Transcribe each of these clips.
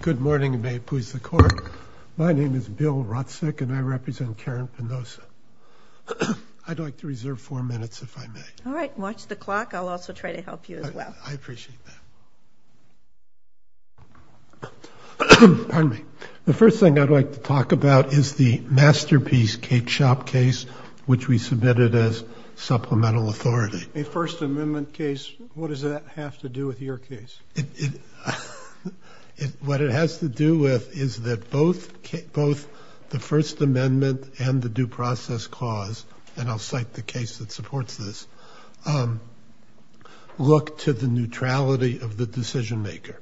Good morning Maypoos the court. My name is Bill Rotsick and I represent Karen Penoza. I'd like to reserve four minutes if I may. All right, watch the clock. I'll also try to help you as well. I appreciate that. Pardon me. The first thing I'd like to talk about is the masterpiece cake shop case which we submitted as supplemental authority. A First Amendment case, what does that have to do with your case? What it has to do with is that both the First Amendment and the due process clause, and I'll cite the case that supports this, look to the neutrality of the decision-maker.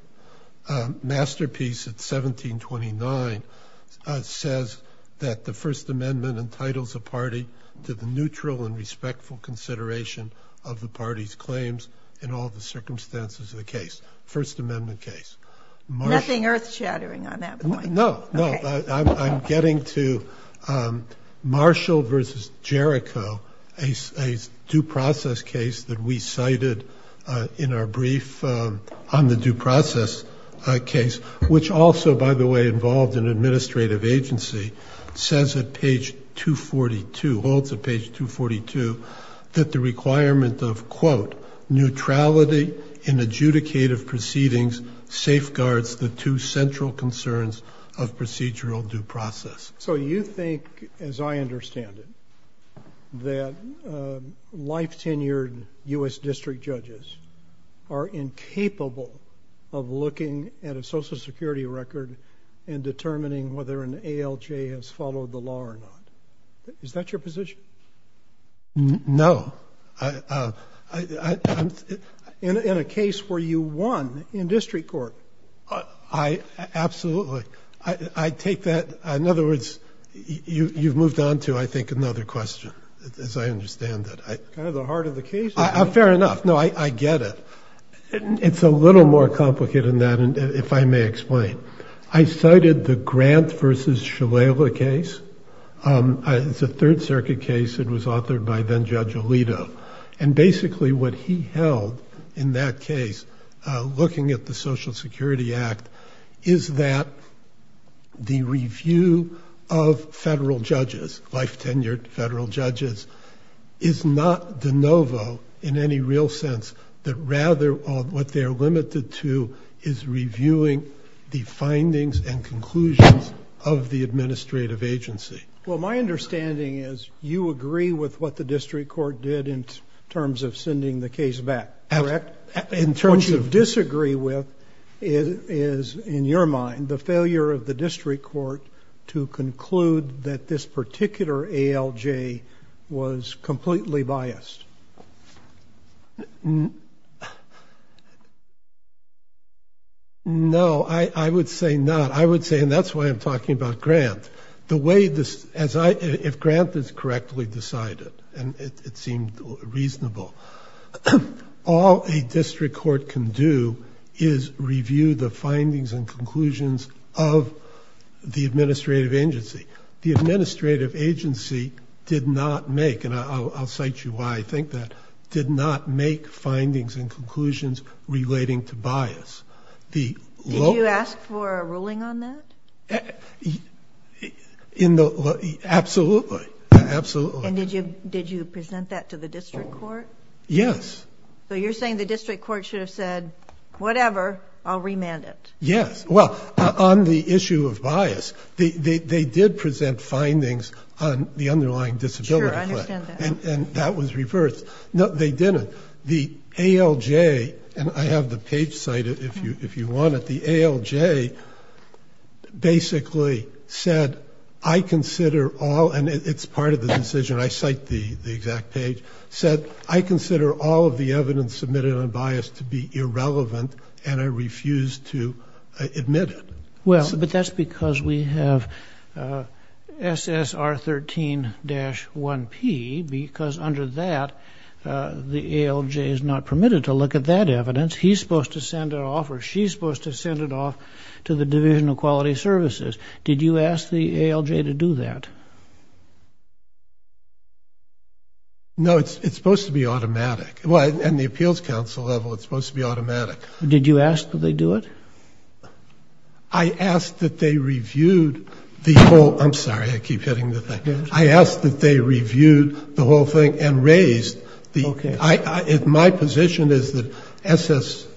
Masterpiece at 1729 says that the First Amendment entitles a party to the neutral and respectful consideration of the party's claims in all the circumstances of the case. First Amendment case. Nothing earth-shattering on that point. No, no. I'm getting to Marshall v. Jericho, a due process case that we cited in our brief on the due process case, which also by the way involved an administrative agency, says at page 242, holds at page 242, that the requirement of quote neutrality in adjudicative proceedings safeguards the two central concerns of procedural due process. So you think, as I understand it, that life-tenured U.S. district judges are incapable of looking at a Social Security record and determining whether an ALJ has followed the law or not. Is that your position? No. In a case where you won in district court? Absolutely. I take that, in other words, you've moved on to, I think, another question, as I understand it. Kind of the heart of the case. Fair enough. No, I get it. It's a little more complicated than that, if I may explain. I cited the Grant v. Shalala case. It's a Third Circuit case. It was authored by then-Judge Alito. And basically what he held in that case, looking at the Social Security Act, is that the review of federal judges, life-tenured federal judges, is not de novo in any real sense. Rather, what they are limited to is reviewing the findings and conclusions of the administrative agency. Well, my understanding is you agree with what the district court did in terms of sending the case back, correct? Absolutely. What you disagree with is, in your mind, the failure of the district court to conclude that this particular ALJ was completely biased. No, I would say not. I would say, and that's why I'm talking about Grant. If Grant is correctly decided, and it seemed reasonable, all a district court can do is review the findings and conclusions of the administrative agency. The administrative agency did not make, and I'll cite you why I think that, did not make findings and conclusions relating to bias. Did you ask for a ruling on that? Absolutely. And did you present that to the district court? Yes. So you're saying the district court should have said, whatever, I'll remand it. Yes. Well, on the issue of bias, they did present findings on the underlying disability claim. Sure, I understand that. And that was reversed. No, they didn't. The ALJ, and I have the page cited if you want it, the ALJ basically said, I consider all, and it's part of the decision, I cite the exact page, said, I consider all of the evidence submitted on bias to be irrelevant and I refuse to admit it. Well, but that's because we have SSR 13-1P because under that, the ALJ is not permitted to look at that evidence. He's supposed to send it off or she's supposed to send it off to the Division of Quality Services. Did you ask the ALJ to do that? No, it's supposed to be automatic. Well, and the Appeals Council level, it's supposed to be automatic. Did you ask that they do it? I asked that they reviewed the whole, I'm sorry, I keep hitting the thing. I asked that they reviewed the whole thing and raised the, my position is that SSR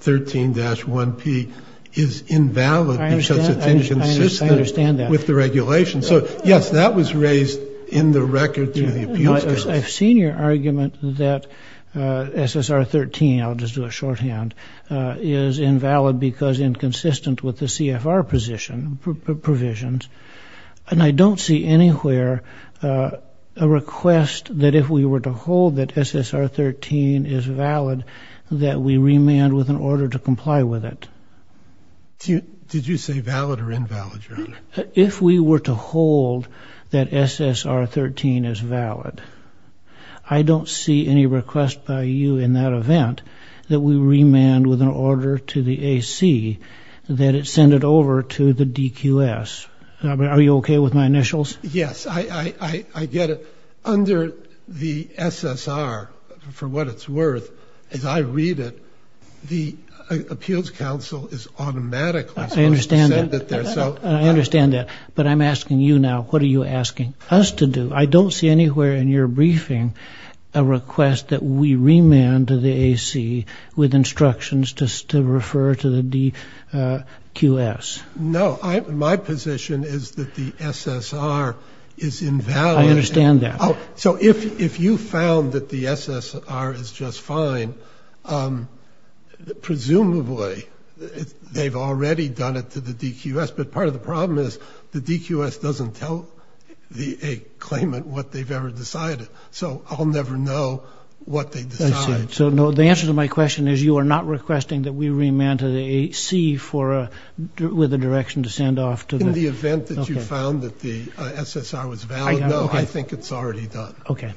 13-1P is invalid because it's inconsistent with the regulations. I've seen your argument that SSR 13, I'll just do a shorthand, is invalid because inconsistent with the CFR position, provisions, and I don't see anywhere a request that if we were to hold that SSR 13 is valid that we remand with an order to comply with it. If we were to hold that SSR 13 is valid, I don't see any request by you in that event that we remand with an order to the AC that it send it over to the DQS. Are you okay with my initials? Yes, I get it. Under the SSR, for what it's worth, as I read it, the Appeals Council is automatically supposed to send it there. I understand that, but I'm asking you now, what are you asking us to do? I don't see anywhere in your briefing a request that we remand to the AC with instructions to refer to the DQS. No, my position is that the SSR is invalid. I understand that. So if you found that the SSR is just fine, presumably they've already done it to the DQS, but part of the problem is the DQS doesn't tell the claimant what they've ever decided, so I'll never know what they decide. I see. So the answer to my question is you are not requesting that we remand to the AC with a direction to send off to the... In the event that you found that the SSR was valid, no, I think it's already done. Okay.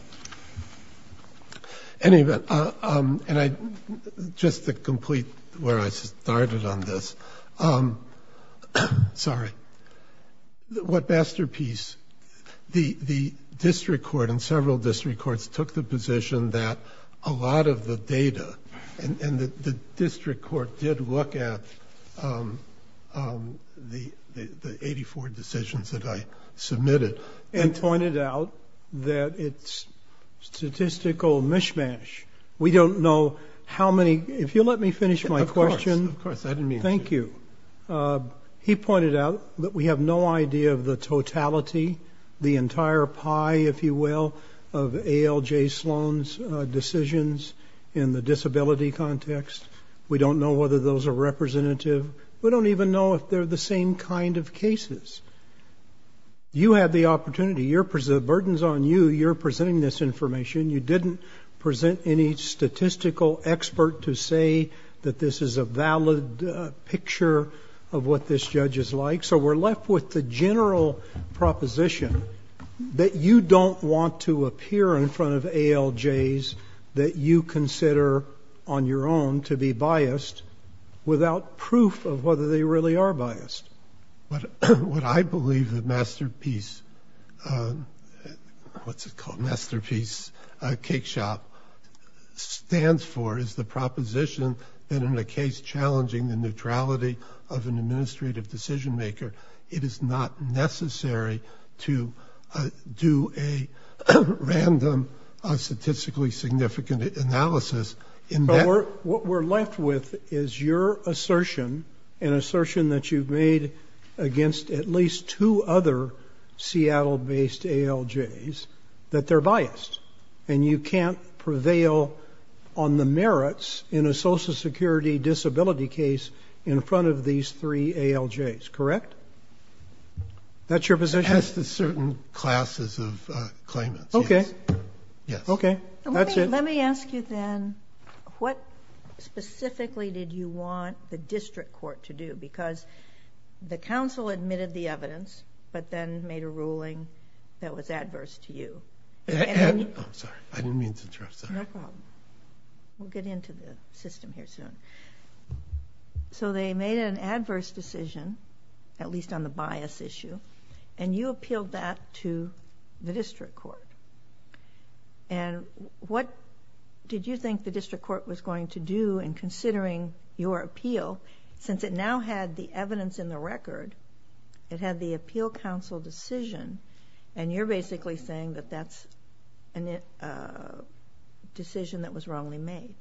Anyway, just to complete where I started on this, sorry, what masterpiece... The district court and several district courts took the position that a lot of the data, and the district court did look at the 84 decisions that I submitted... And pointed out that it's statistical mishmash. We don't know how many... If you'll let me finish my question. Of course, of course. Pardon me. Thank you. He pointed out that we have no idea of the totality, the entire pie, if you will, of ALJ Sloan's decisions in the disability context. We don't know whether those are representative. We don't even know if they're the same kind of cases. You had the opportunity. The burden's on you. You're presenting this information. You didn't present any statistical expert to say that this is a valid picture of what this judge is like. So we're left with the general proposition that you don't want to appear in front of ALJs that you consider, on your own, to be biased without proof of whether they really are biased. What I believe the masterpiece... What's it called? What the masterpiece cake shop stands for is the proposition that in a case challenging the neutrality of an administrative decision-maker, it is not necessary to do a random statistically significant analysis... But what we're left with is your assertion, an assertion that you've made against at least two other Seattle-based ALJs, that they're biased, and you can't prevail on the merits in a Social Security disability case in front of these three ALJs, correct? That's your position? As to certain classes of claimants, yes. Okay. Okay. That's it. Let me ask you, then, Because the counsel admitted the evidence but then made a ruling that was adverse to you. I'm sorry. I didn't mean to interrupt. No problem. We'll get into the system here soon. So they made an adverse decision, at least on the bias issue, and you appealed that to the district court. And what did you think the district court was going to do in considering your appeal? Since it now had the evidence in the record, it had the appeal counsel decision, and you're basically saying that that's a decision that was wrongly made.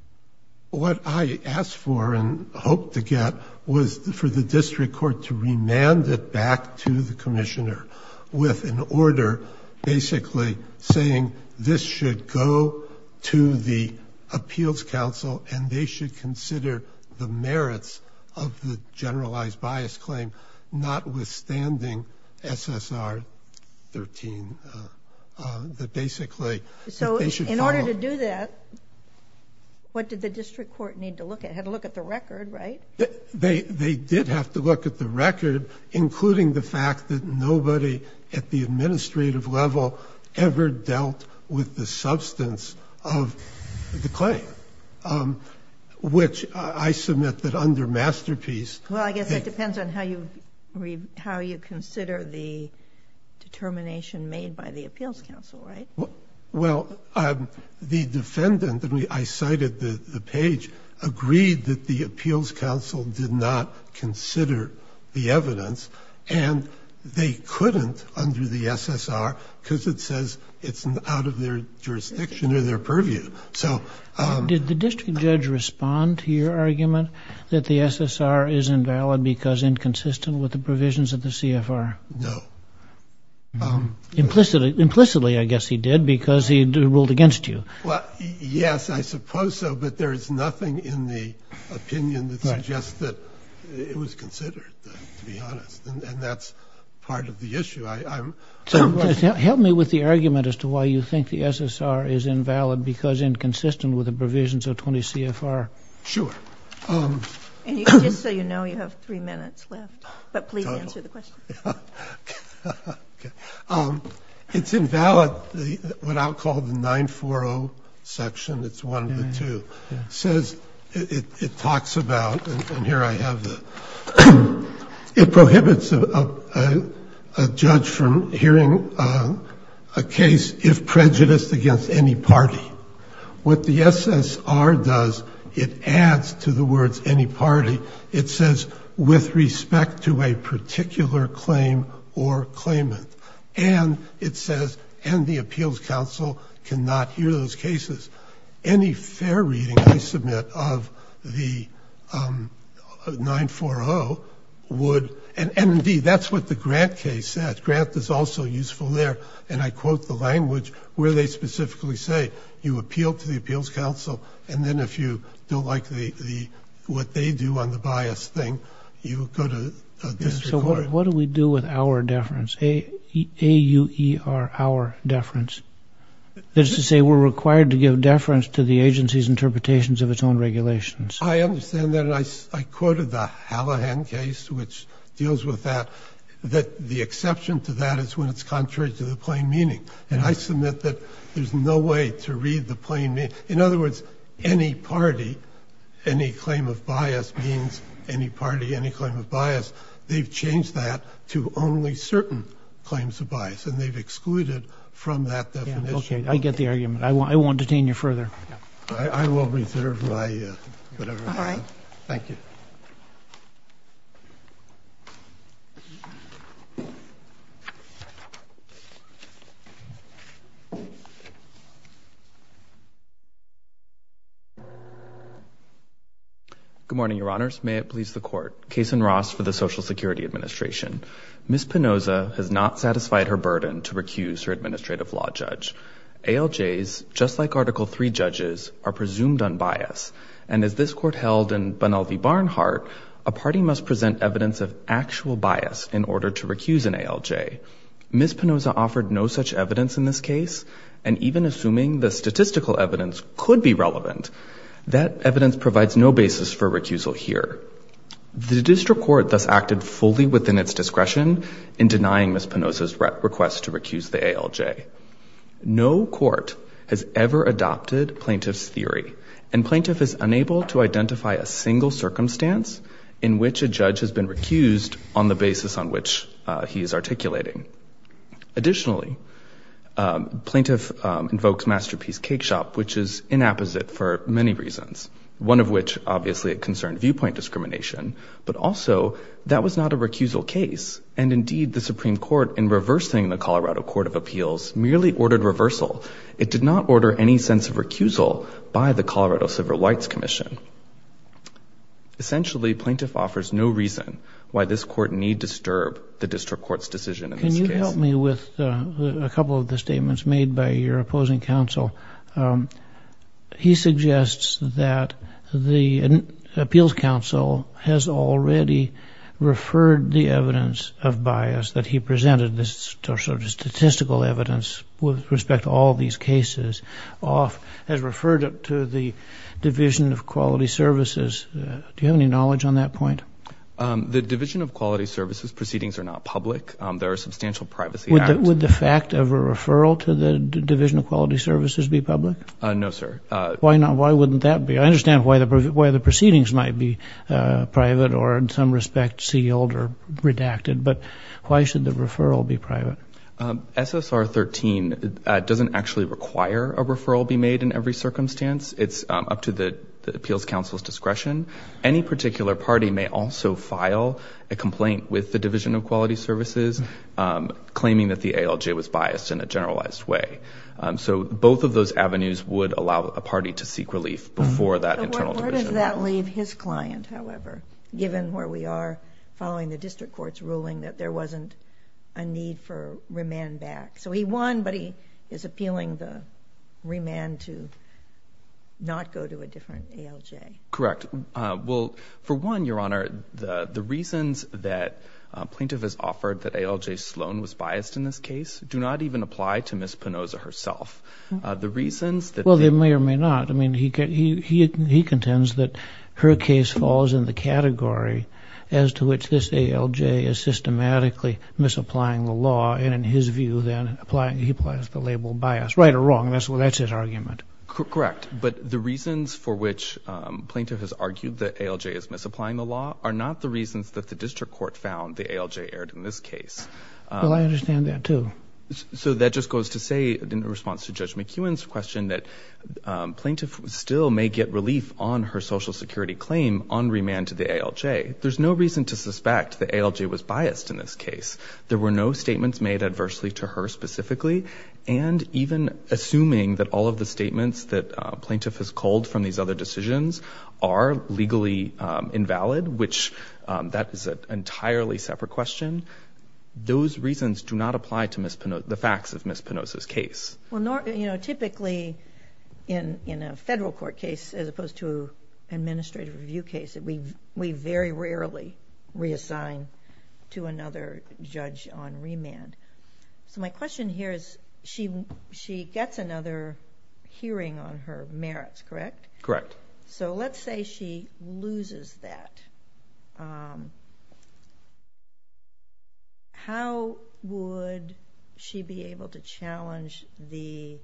What I asked for and hoped to get was for the district court to remand it back to the commissioner with an order basically saying this should go to the appeals counsel and they should consider the merits of the generalized bias claim notwithstanding SSR 13, that basically they should follow... So in order to do that, what did the district court need to look at? It had to look at the record, right? They did have to look at the record, including the fact that nobody at the administrative level ever dealt with the substance of the claim, which I submit that under Masterpiece... Well, I guess it depends on how you consider the determination made by the appeals counsel, right? Well, the defendant, I cited the page, agreed that the appeals counsel did not consider the evidence and they couldn't under the SSR because it says it's out of their jurisdiction or their purview. Did the district judge respond to your argument that the SSR is invalid because inconsistent with the provisions of the CFR? No. Implicitly, I guess he did, because he ruled against you. Yes, I suppose so, but there is nothing in the opinion that suggests that it was considered, to be honest, and that's part of the issue. Help me with the argument as to why you think the SSR is invalid because inconsistent with the provisions of 20 CFR. Sure. And just so you know, you have three minutes left, but please answer the question. Okay. It's invalid what I'll call the 940 section. It's one of the two. It says, it talks about, and here I have the... It prohibits a judge from hearing a case if prejudiced against any party. What the SSR does, it adds to the words, any party. It says, with respect to a particular claim or claimant. And it says, and the Appeals Council cannot hear those cases. Any fair reading, I submit, of the 940 would... And indeed, that's what the Grant case said. Grant is also useful there, and I quote the language where they specifically say, you appeal to the Appeals Council, and then if you don't like what they do on the bias thing, you go to a district court. So what do we do with our deference? A-U-E-R, our deference. That is to say, we're required to give deference to the agency's interpretations of its own regulations. I understand that, and I quoted the Hallahan case which deals with that, that the exception to that is when it's contrary to the plain meaning. And I submit that there's no way to read the plain meaning. In other words, any party, any claim of bias means any party, any claim of bias. They've changed that to only certain claims of bias, and they've excluded from that definition. Okay, I get the argument. I won't detain you further. I will reserve my... All right. Thank you. Thank you. Good morning, Your Honors. May it please the Court. Kaysen Ross for the Social Security Administration. Ms. Pinoza has not satisfied her burden to recuse her administrative law judge. ALJs, just like Article III judges, are presumed unbiased. And as this Court held in Bunel v. Barnhart, a party must present evidence of actual bias in order to recuse an ALJ. Ms. Pinoza offered no such evidence in this case, and even assuming the statistical evidence could be relevant, that evidence provides no basis for recusal here. The district court thus acted fully within its discretion in denying Ms. Pinoza's request to recuse the ALJ. and plaintiff is unable to identify a single circumstance in which a judge has been recused on the basis on which he is articulating. Additionally, plaintiff invokes Masterpiece Cakeshop, which is inapposite for many reasons, one of which, obviously, it concerned viewpoint discrimination, but also that was not a recusal case. And indeed, the Supreme Court, in reversing the Colorado Court of Appeals, merely ordered reversal. It did not order any sense of recusal by the Colorado Civil Rights Commission. Essentially, plaintiff offers no reason why this court need disturb the district court's decision in this case. Can you help me with a couple of the statements made by your opposing counsel? He suggests that the appeals counsel has already referred the evidence of bias that he presented, the statistical evidence with respect to all these cases, has referred it to the Division of Quality Services. Do you have any knowledge on that point? The Division of Quality Services proceedings are not public. There are substantial privacy acts. Would the fact of a referral to the Division of Quality Services be public? No, sir. Why wouldn't that be? I understand why the proceedings might be private but why should the referral be private? SSR 13 doesn't actually require a referral be made in every circumstance. It's up to the appeals counsel's discretion. Any particular party may also file a complaint with the Division of Quality Services claiming that the ALJ was biased in a generalized way. So both of those avenues would allow a party to seek relief before that internal division. Where does that leave his client, however, given where we are following the district court's ruling that there wasn't a need for remand back? So he won but he is appealing the remand to not go to a different ALJ. Correct. Well, for one, Your Honor, the reasons that plaintiff has offered that ALJ Sloan was biased in this case do not even apply to Ms. Pinozza herself. Well, they may or may not. He contends that her case falls in the category as to which this ALJ is systematically misapplying the law and, in his view, then he applies the label biased. Right or wrong? That's his argument. Correct. But the reasons for which plaintiff has argued that ALJ is misapplying the law are not the reasons that the district court found the ALJ erred in this case. Well, I understand that, too. So that just goes to say, in response to Judge McEwen's question, that plaintiff still may get relief on her Social Security claim on remand to the ALJ. There's no reason to suspect that ALJ was biased in this case. There were no statements made adversely to her specifically. And even assuming that all of the statements that plaintiff has culled from these other decisions are legally invalid, which that is an entirely separate question, those reasons do not apply to the facts of Ms. Pinozza's case. Well, you know, typically in a federal court case as opposed to an administrative review case, we very rarely reassign to another judge on remand. So my question here is, she gets another hearing on her merits, correct? Correct. So let's say she loses that. How would she be able to challenge the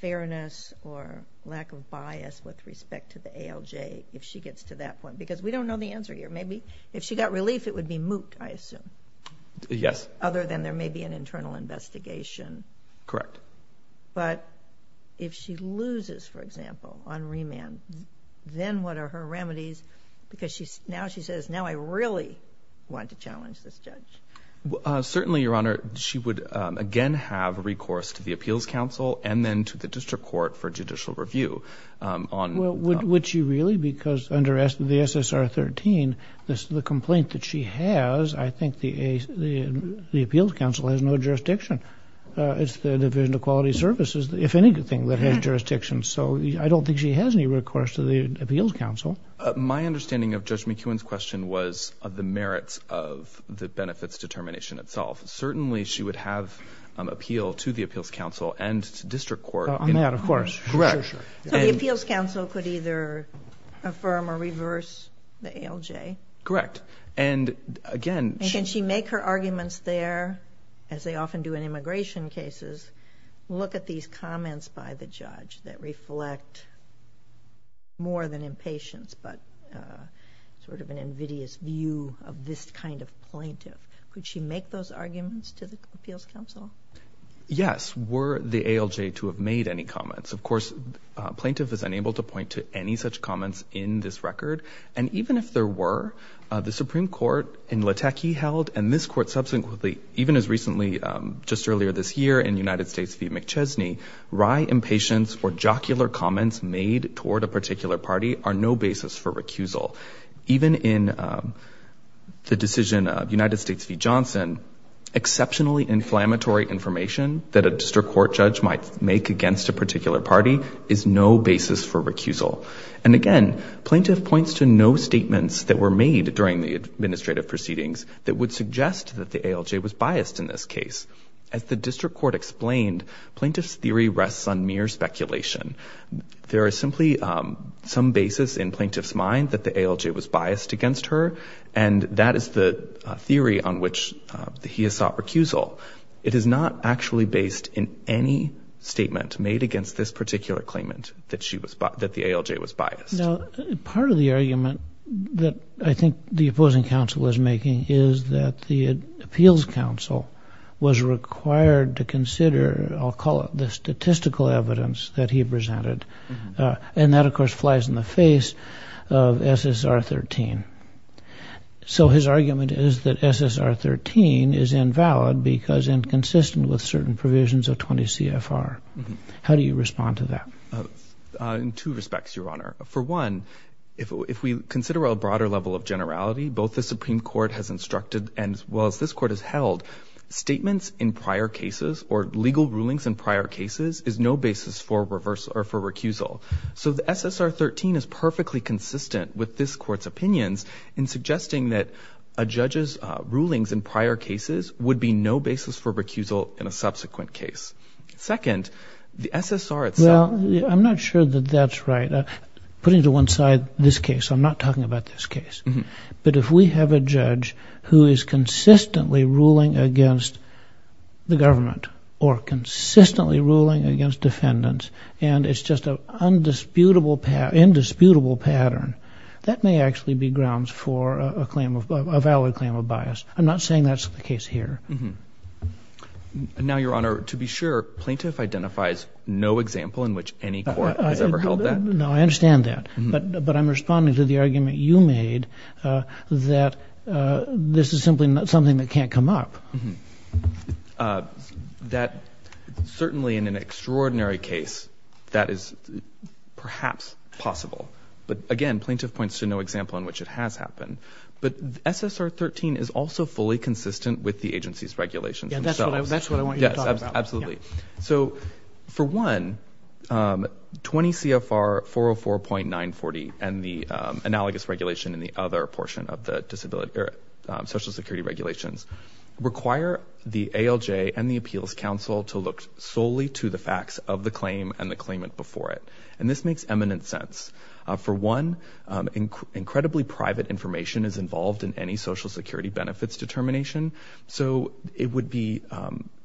fairness or lack of bias with respect to the ALJ if she gets to that point? Because we don't know the answer here. Maybe if she got relief, it would be moot, I assume. Yes. Other than there may be an internal investigation. Correct. But if she loses, for example, on remand, then what are her remedies? Because now she says, now I really want to challenge this judge. Certainly, Your Honor, she would again have recourse to the Appeals Council and then to the District Court for judicial review. Would she really? Because under the SSR 13, the complaint that she has, I think the Appeals Council has no jurisdiction. It's the Division of Quality Services, if anything, that has jurisdiction. So I don't think she has any recourse to the Appeals Council. My understanding of Judge McEwen's question was of the merits of the benefits determination itself. Certainly, she would have appeal to the Appeals Council and to District Court. On that, of course. Correct. So the Appeals Council could either affirm or reverse the ALJ? Correct. And again... And can she make her arguments there, as they often do in immigration cases, look at these comments by the judge that reflect more than impatience, but sort of an invidious view of this kind of plaintiff? Would she make those arguments to the Appeals Council? Yes. Were the ALJ to have made any comments? Of course, plaintiff is unable to point to any such comments in this record. And even if there were, the Supreme Court in Lateke held and this Court subsequently, even as recently just earlier this year in United States v. McChesney, wry impatience or jocular comments made toward a particular party are no basis for recusal. Even in the decision of United States v. Johnson, exceptionally inflammatory information that a District Court judge might make against a particular party is no basis for recusal. And again, plaintiff points to no statements that were made during the administrative proceedings that would suggest that the ALJ was biased in this case. As the District Court explained, plaintiff's theory rests on mere speculation. There is simply some basis in plaintiff's mind that the ALJ was biased against her and that is the theory on which he has sought recusal. It is not actually based in any statement made against this particular claimant that the ALJ was biased. Now, part of the argument that I think the opposing counsel is making is that the Appeals Council I'll call it, the statistical evidence that he presented. And that, of course, flies in the face of SSR 13. So his argument is that SSR 13 is invalid because inconsistent with certain provisions of 20 CFR. How do you respond to that? In two respects, Your Honor. For one, if we consider a broader level of generality, both the Supreme Court has instructed as well as this Court has held statements in prior cases or legal rulings in prior cases is no basis for recusal. So the SSR 13 is perfectly consistent with this Court's opinions in suggesting that a judge's rulings in prior cases would be no basis for recusal in a subsequent case. Second, the SSR itself Well, I'm not sure that that's right. Putting to one side this case, I'm not talking about this case. But if we have a judge who is consistently ruling against the government or consistently ruling against defendants and it's just an indisputable pattern, that may actually be grounds for a valid claim of bias. I'm not saying that's the case here. Now, Your Honor, to be sure, plaintiff identifies no example in which any court has ever held that. No, I understand that. But I'm responding to the argument you made that this is simply something that can't come up. That certainly in an extraordinary case, that is perhaps possible. But again, plaintiff points to no example in which it has happened. But SSR 13 is also fully consistent with the agency's regulations themselves. That's what I want you to talk about. So, for one, 20 CFR 404.940 and the analogous regulation in the other portion of the social security regulations require the ALJ and the Appeals Council to look solely to the facts of the claim and the claimant before it. And this makes eminent sense. For one, incredibly private information is involved in any social security benefits determination. So, it would be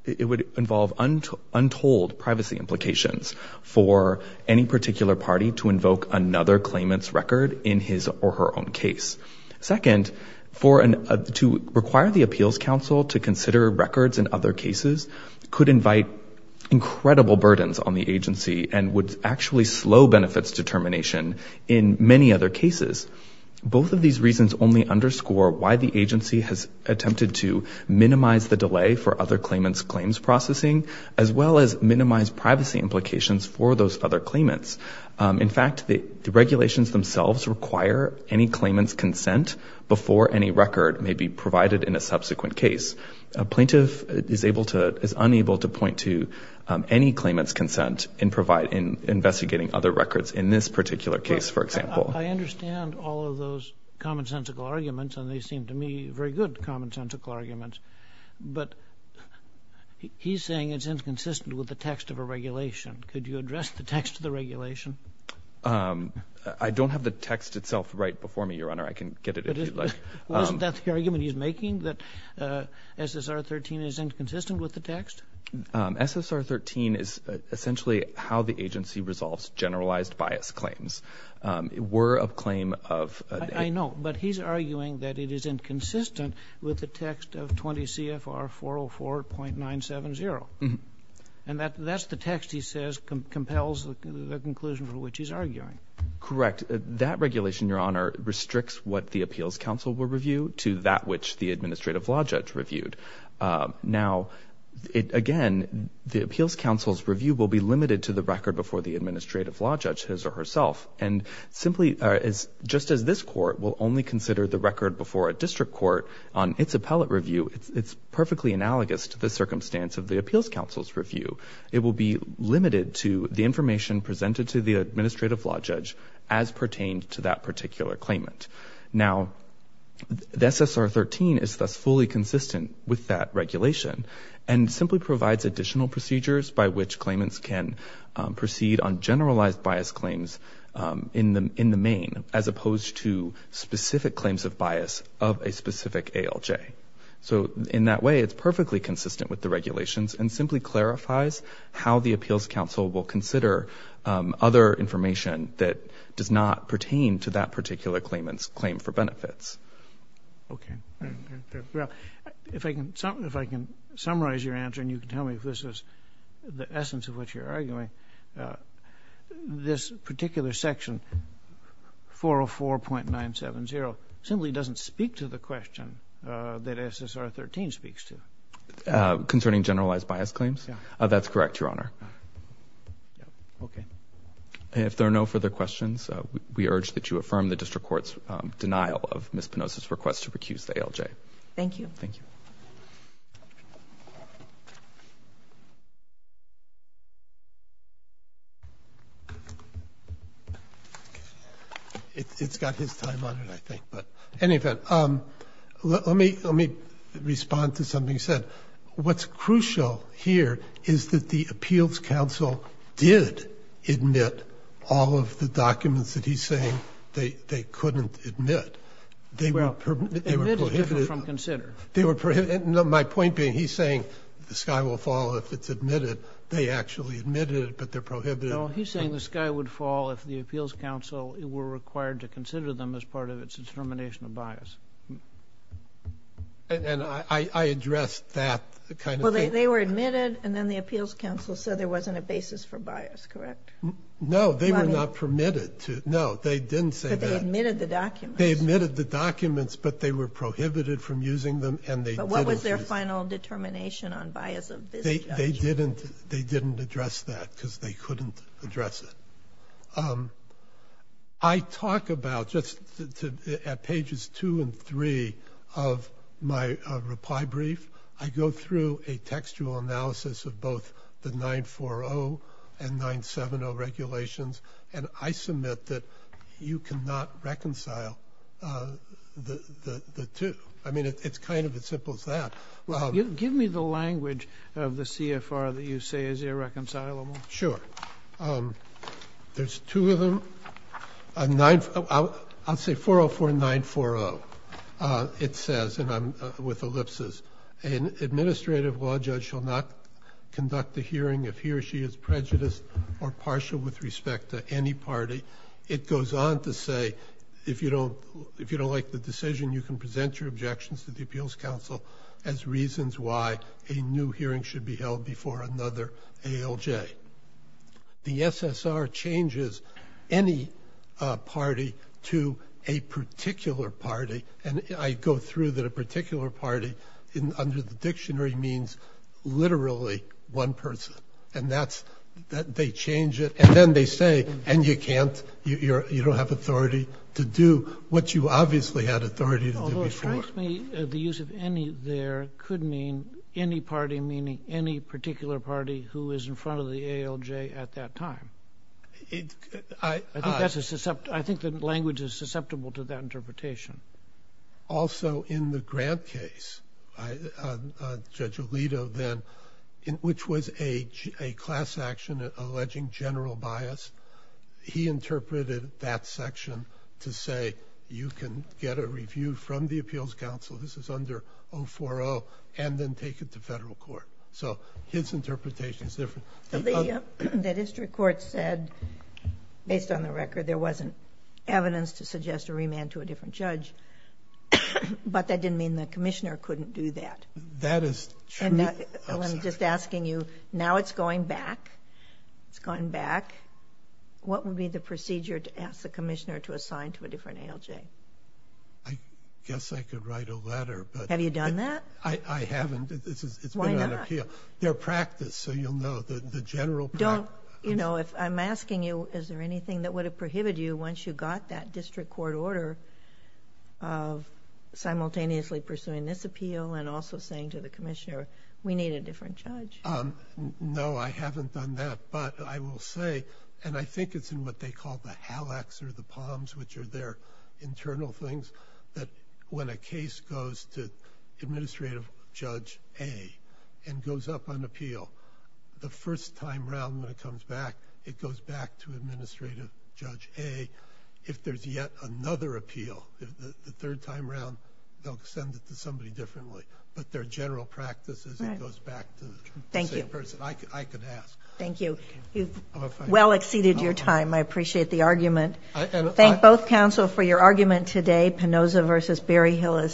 it would involve untold privacy implications for any particular party to invoke another claimant's record in his or her own case. Second, to require the Appeals Council to consider records in other cases could invite incredible burdens on the agency and would actually slow benefits determination in many other cases. Both of these reasons only underscore why the agency has attempted to minimize the delay for other claimants claims processing, as well as minimize privacy implications for those other claimants. In fact, the regulations themselves require any claimant's consent before any record may be provided in a subsequent case. A plaintiff is unable to point to any claimant's consent in investigating other records in this particular case, for example. I understand all of those commonsensical arguments, and they seem to me very good commonsensical arguments, but he's saying it's inconsistent with the text of a regulation. Could you address the text of the regulation? I don't have the text itself right before me, Your Honor. I can get it if you'd like. Isn't that the argument he's making? That SSR 13 is inconsistent with the text? SSR 13 is essentially how the agency resolves generalized bias claims. It were a claim of... I know, but he's arguing that it is inconsistent with the text of 20 CFR 404.970. And that's the text he says compels the conclusion for which he's arguing. Correct. That regulation, Your Honor, restricts what the Appeals Council will review to that which the Administrative Law Judge reviewed. Now, again, the Appeals Council's review will be limited to the record before the Administrative Law Judge his or herself. Just as this Court will only consider the record before a District Court on its appellate review, it's perfectly analogous to the circumstance of the Appeals Council's review. It will be limited to the record before the Administrative Law Judge, as pertained to that particular claimant. Now, the SSR 13 is thus fully consistent with that regulation and simply provides additional procedures by which claimants can proceed on generalized bias claims in the main as opposed to specific claims of bias of a specific ALJ. So, in that way, it's perfectly consistent with the regulations and simply clarifies how the benefit does not pertain to that particular claimant's claim for benefits. Okay. Well, if I can summarize your answer and you can tell me if this is the essence of what you're arguing, this particular section, 404.970, simply doesn't speak to the question that SSR 13 speaks to. Concerning generalized bias claims? That's correct, Your Honor. Okay. And if there are no further questions, we urge that you affirm the District Court's denial of Ms. Penosa's request to recuse the ALJ. Thank you. Thank you. It's got his time on it, I think. But, in any event, let me respond to something you said. What's crucial here is that the Appeals Council did admit all of the documents that he's saying they couldn't admit. They were prohibited. My point being, he's saying the sky will fall if it's admitted. They actually admitted it, but they're prohibited. No, he's saying the sky would fall if the Appeals Council were required to consider them as part of its determination of bias. And I addressed that kind of thing. They were admitted, and then the Appeals Council said there wasn't a basis for bias, correct? No, they were not permitted to. No, they didn't say that. But they admitted the documents. They admitted the documents, but they were prohibited from using them and they didn't use them. But what was their final determination on bias of this judge? They didn't address that because they couldn't address it. I talk about, just at pages 2 and 3 of my reply brief, I go through a textual analysis of both the 940 and 970 regulations, and I submit that you cannot reconcile the two. It's kind of as simple as that. Give me the language of the CFR that you say is irreconcilable. Sure. There's two of them. I'll say 404940 it says, and I'm with ellipses, an administrative law judge shall not conduct a hearing if he or she is prejudiced or partial with respect to any party. It goes on to say if you don't like the decision, you can present your objections to the Appeals Council as reasons why a new hearing should be held before another ALJ. The SSR changes any party to a particular party, and I go through that a particular party under the dictionary means literally one person, and that's, they change it, and then they say, and you can't, you don't have authority to do what you obviously had authority to do before. The use of any there could mean any party, meaning any particular party who is in front of the ALJ at that time. I think that language is susceptible to that interpretation. Also in the Grant case, Judge Alito then, which was a class action alleging general bias, he interpreted that section to say you can get a review from the Appeals Council, this is under 040, and then take it to federal court. So his interpretation is different. The district court said, based on the record, there wasn't evidence to suggest a remand to a different judge, but that didn't mean the commissioner couldn't do that. I'm just asking you, now it's going back, it's going back, what would be the procedure to ask the commissioner to assign to a different ALJ? I guess I could write a letter. Have you done that? I haven't. Why not? Their practice, so you'll know. I'm asking you, is there anything that would have prohibited you once you got that district court order of simultaneously pursuing this appeal and also saying to the commissioner, we need a different judge. No, I haven't done that, but I will say, and I think it's in what they call the HALACs or the POMs, which are their internal things, that when a case goes to Administrative Judge A and goes up on appeal, the first time around when it comes back, it goes back to Administrative Judge A if there's yet another appeal. The third time around, they'll send it to somebody differently. But their general practice is it goes back to the same person. I could ask. Thank you. You've well exceeded your time. I appreciate the argument. Thank both counsel for your argument today. Penoza v. Berryhill is...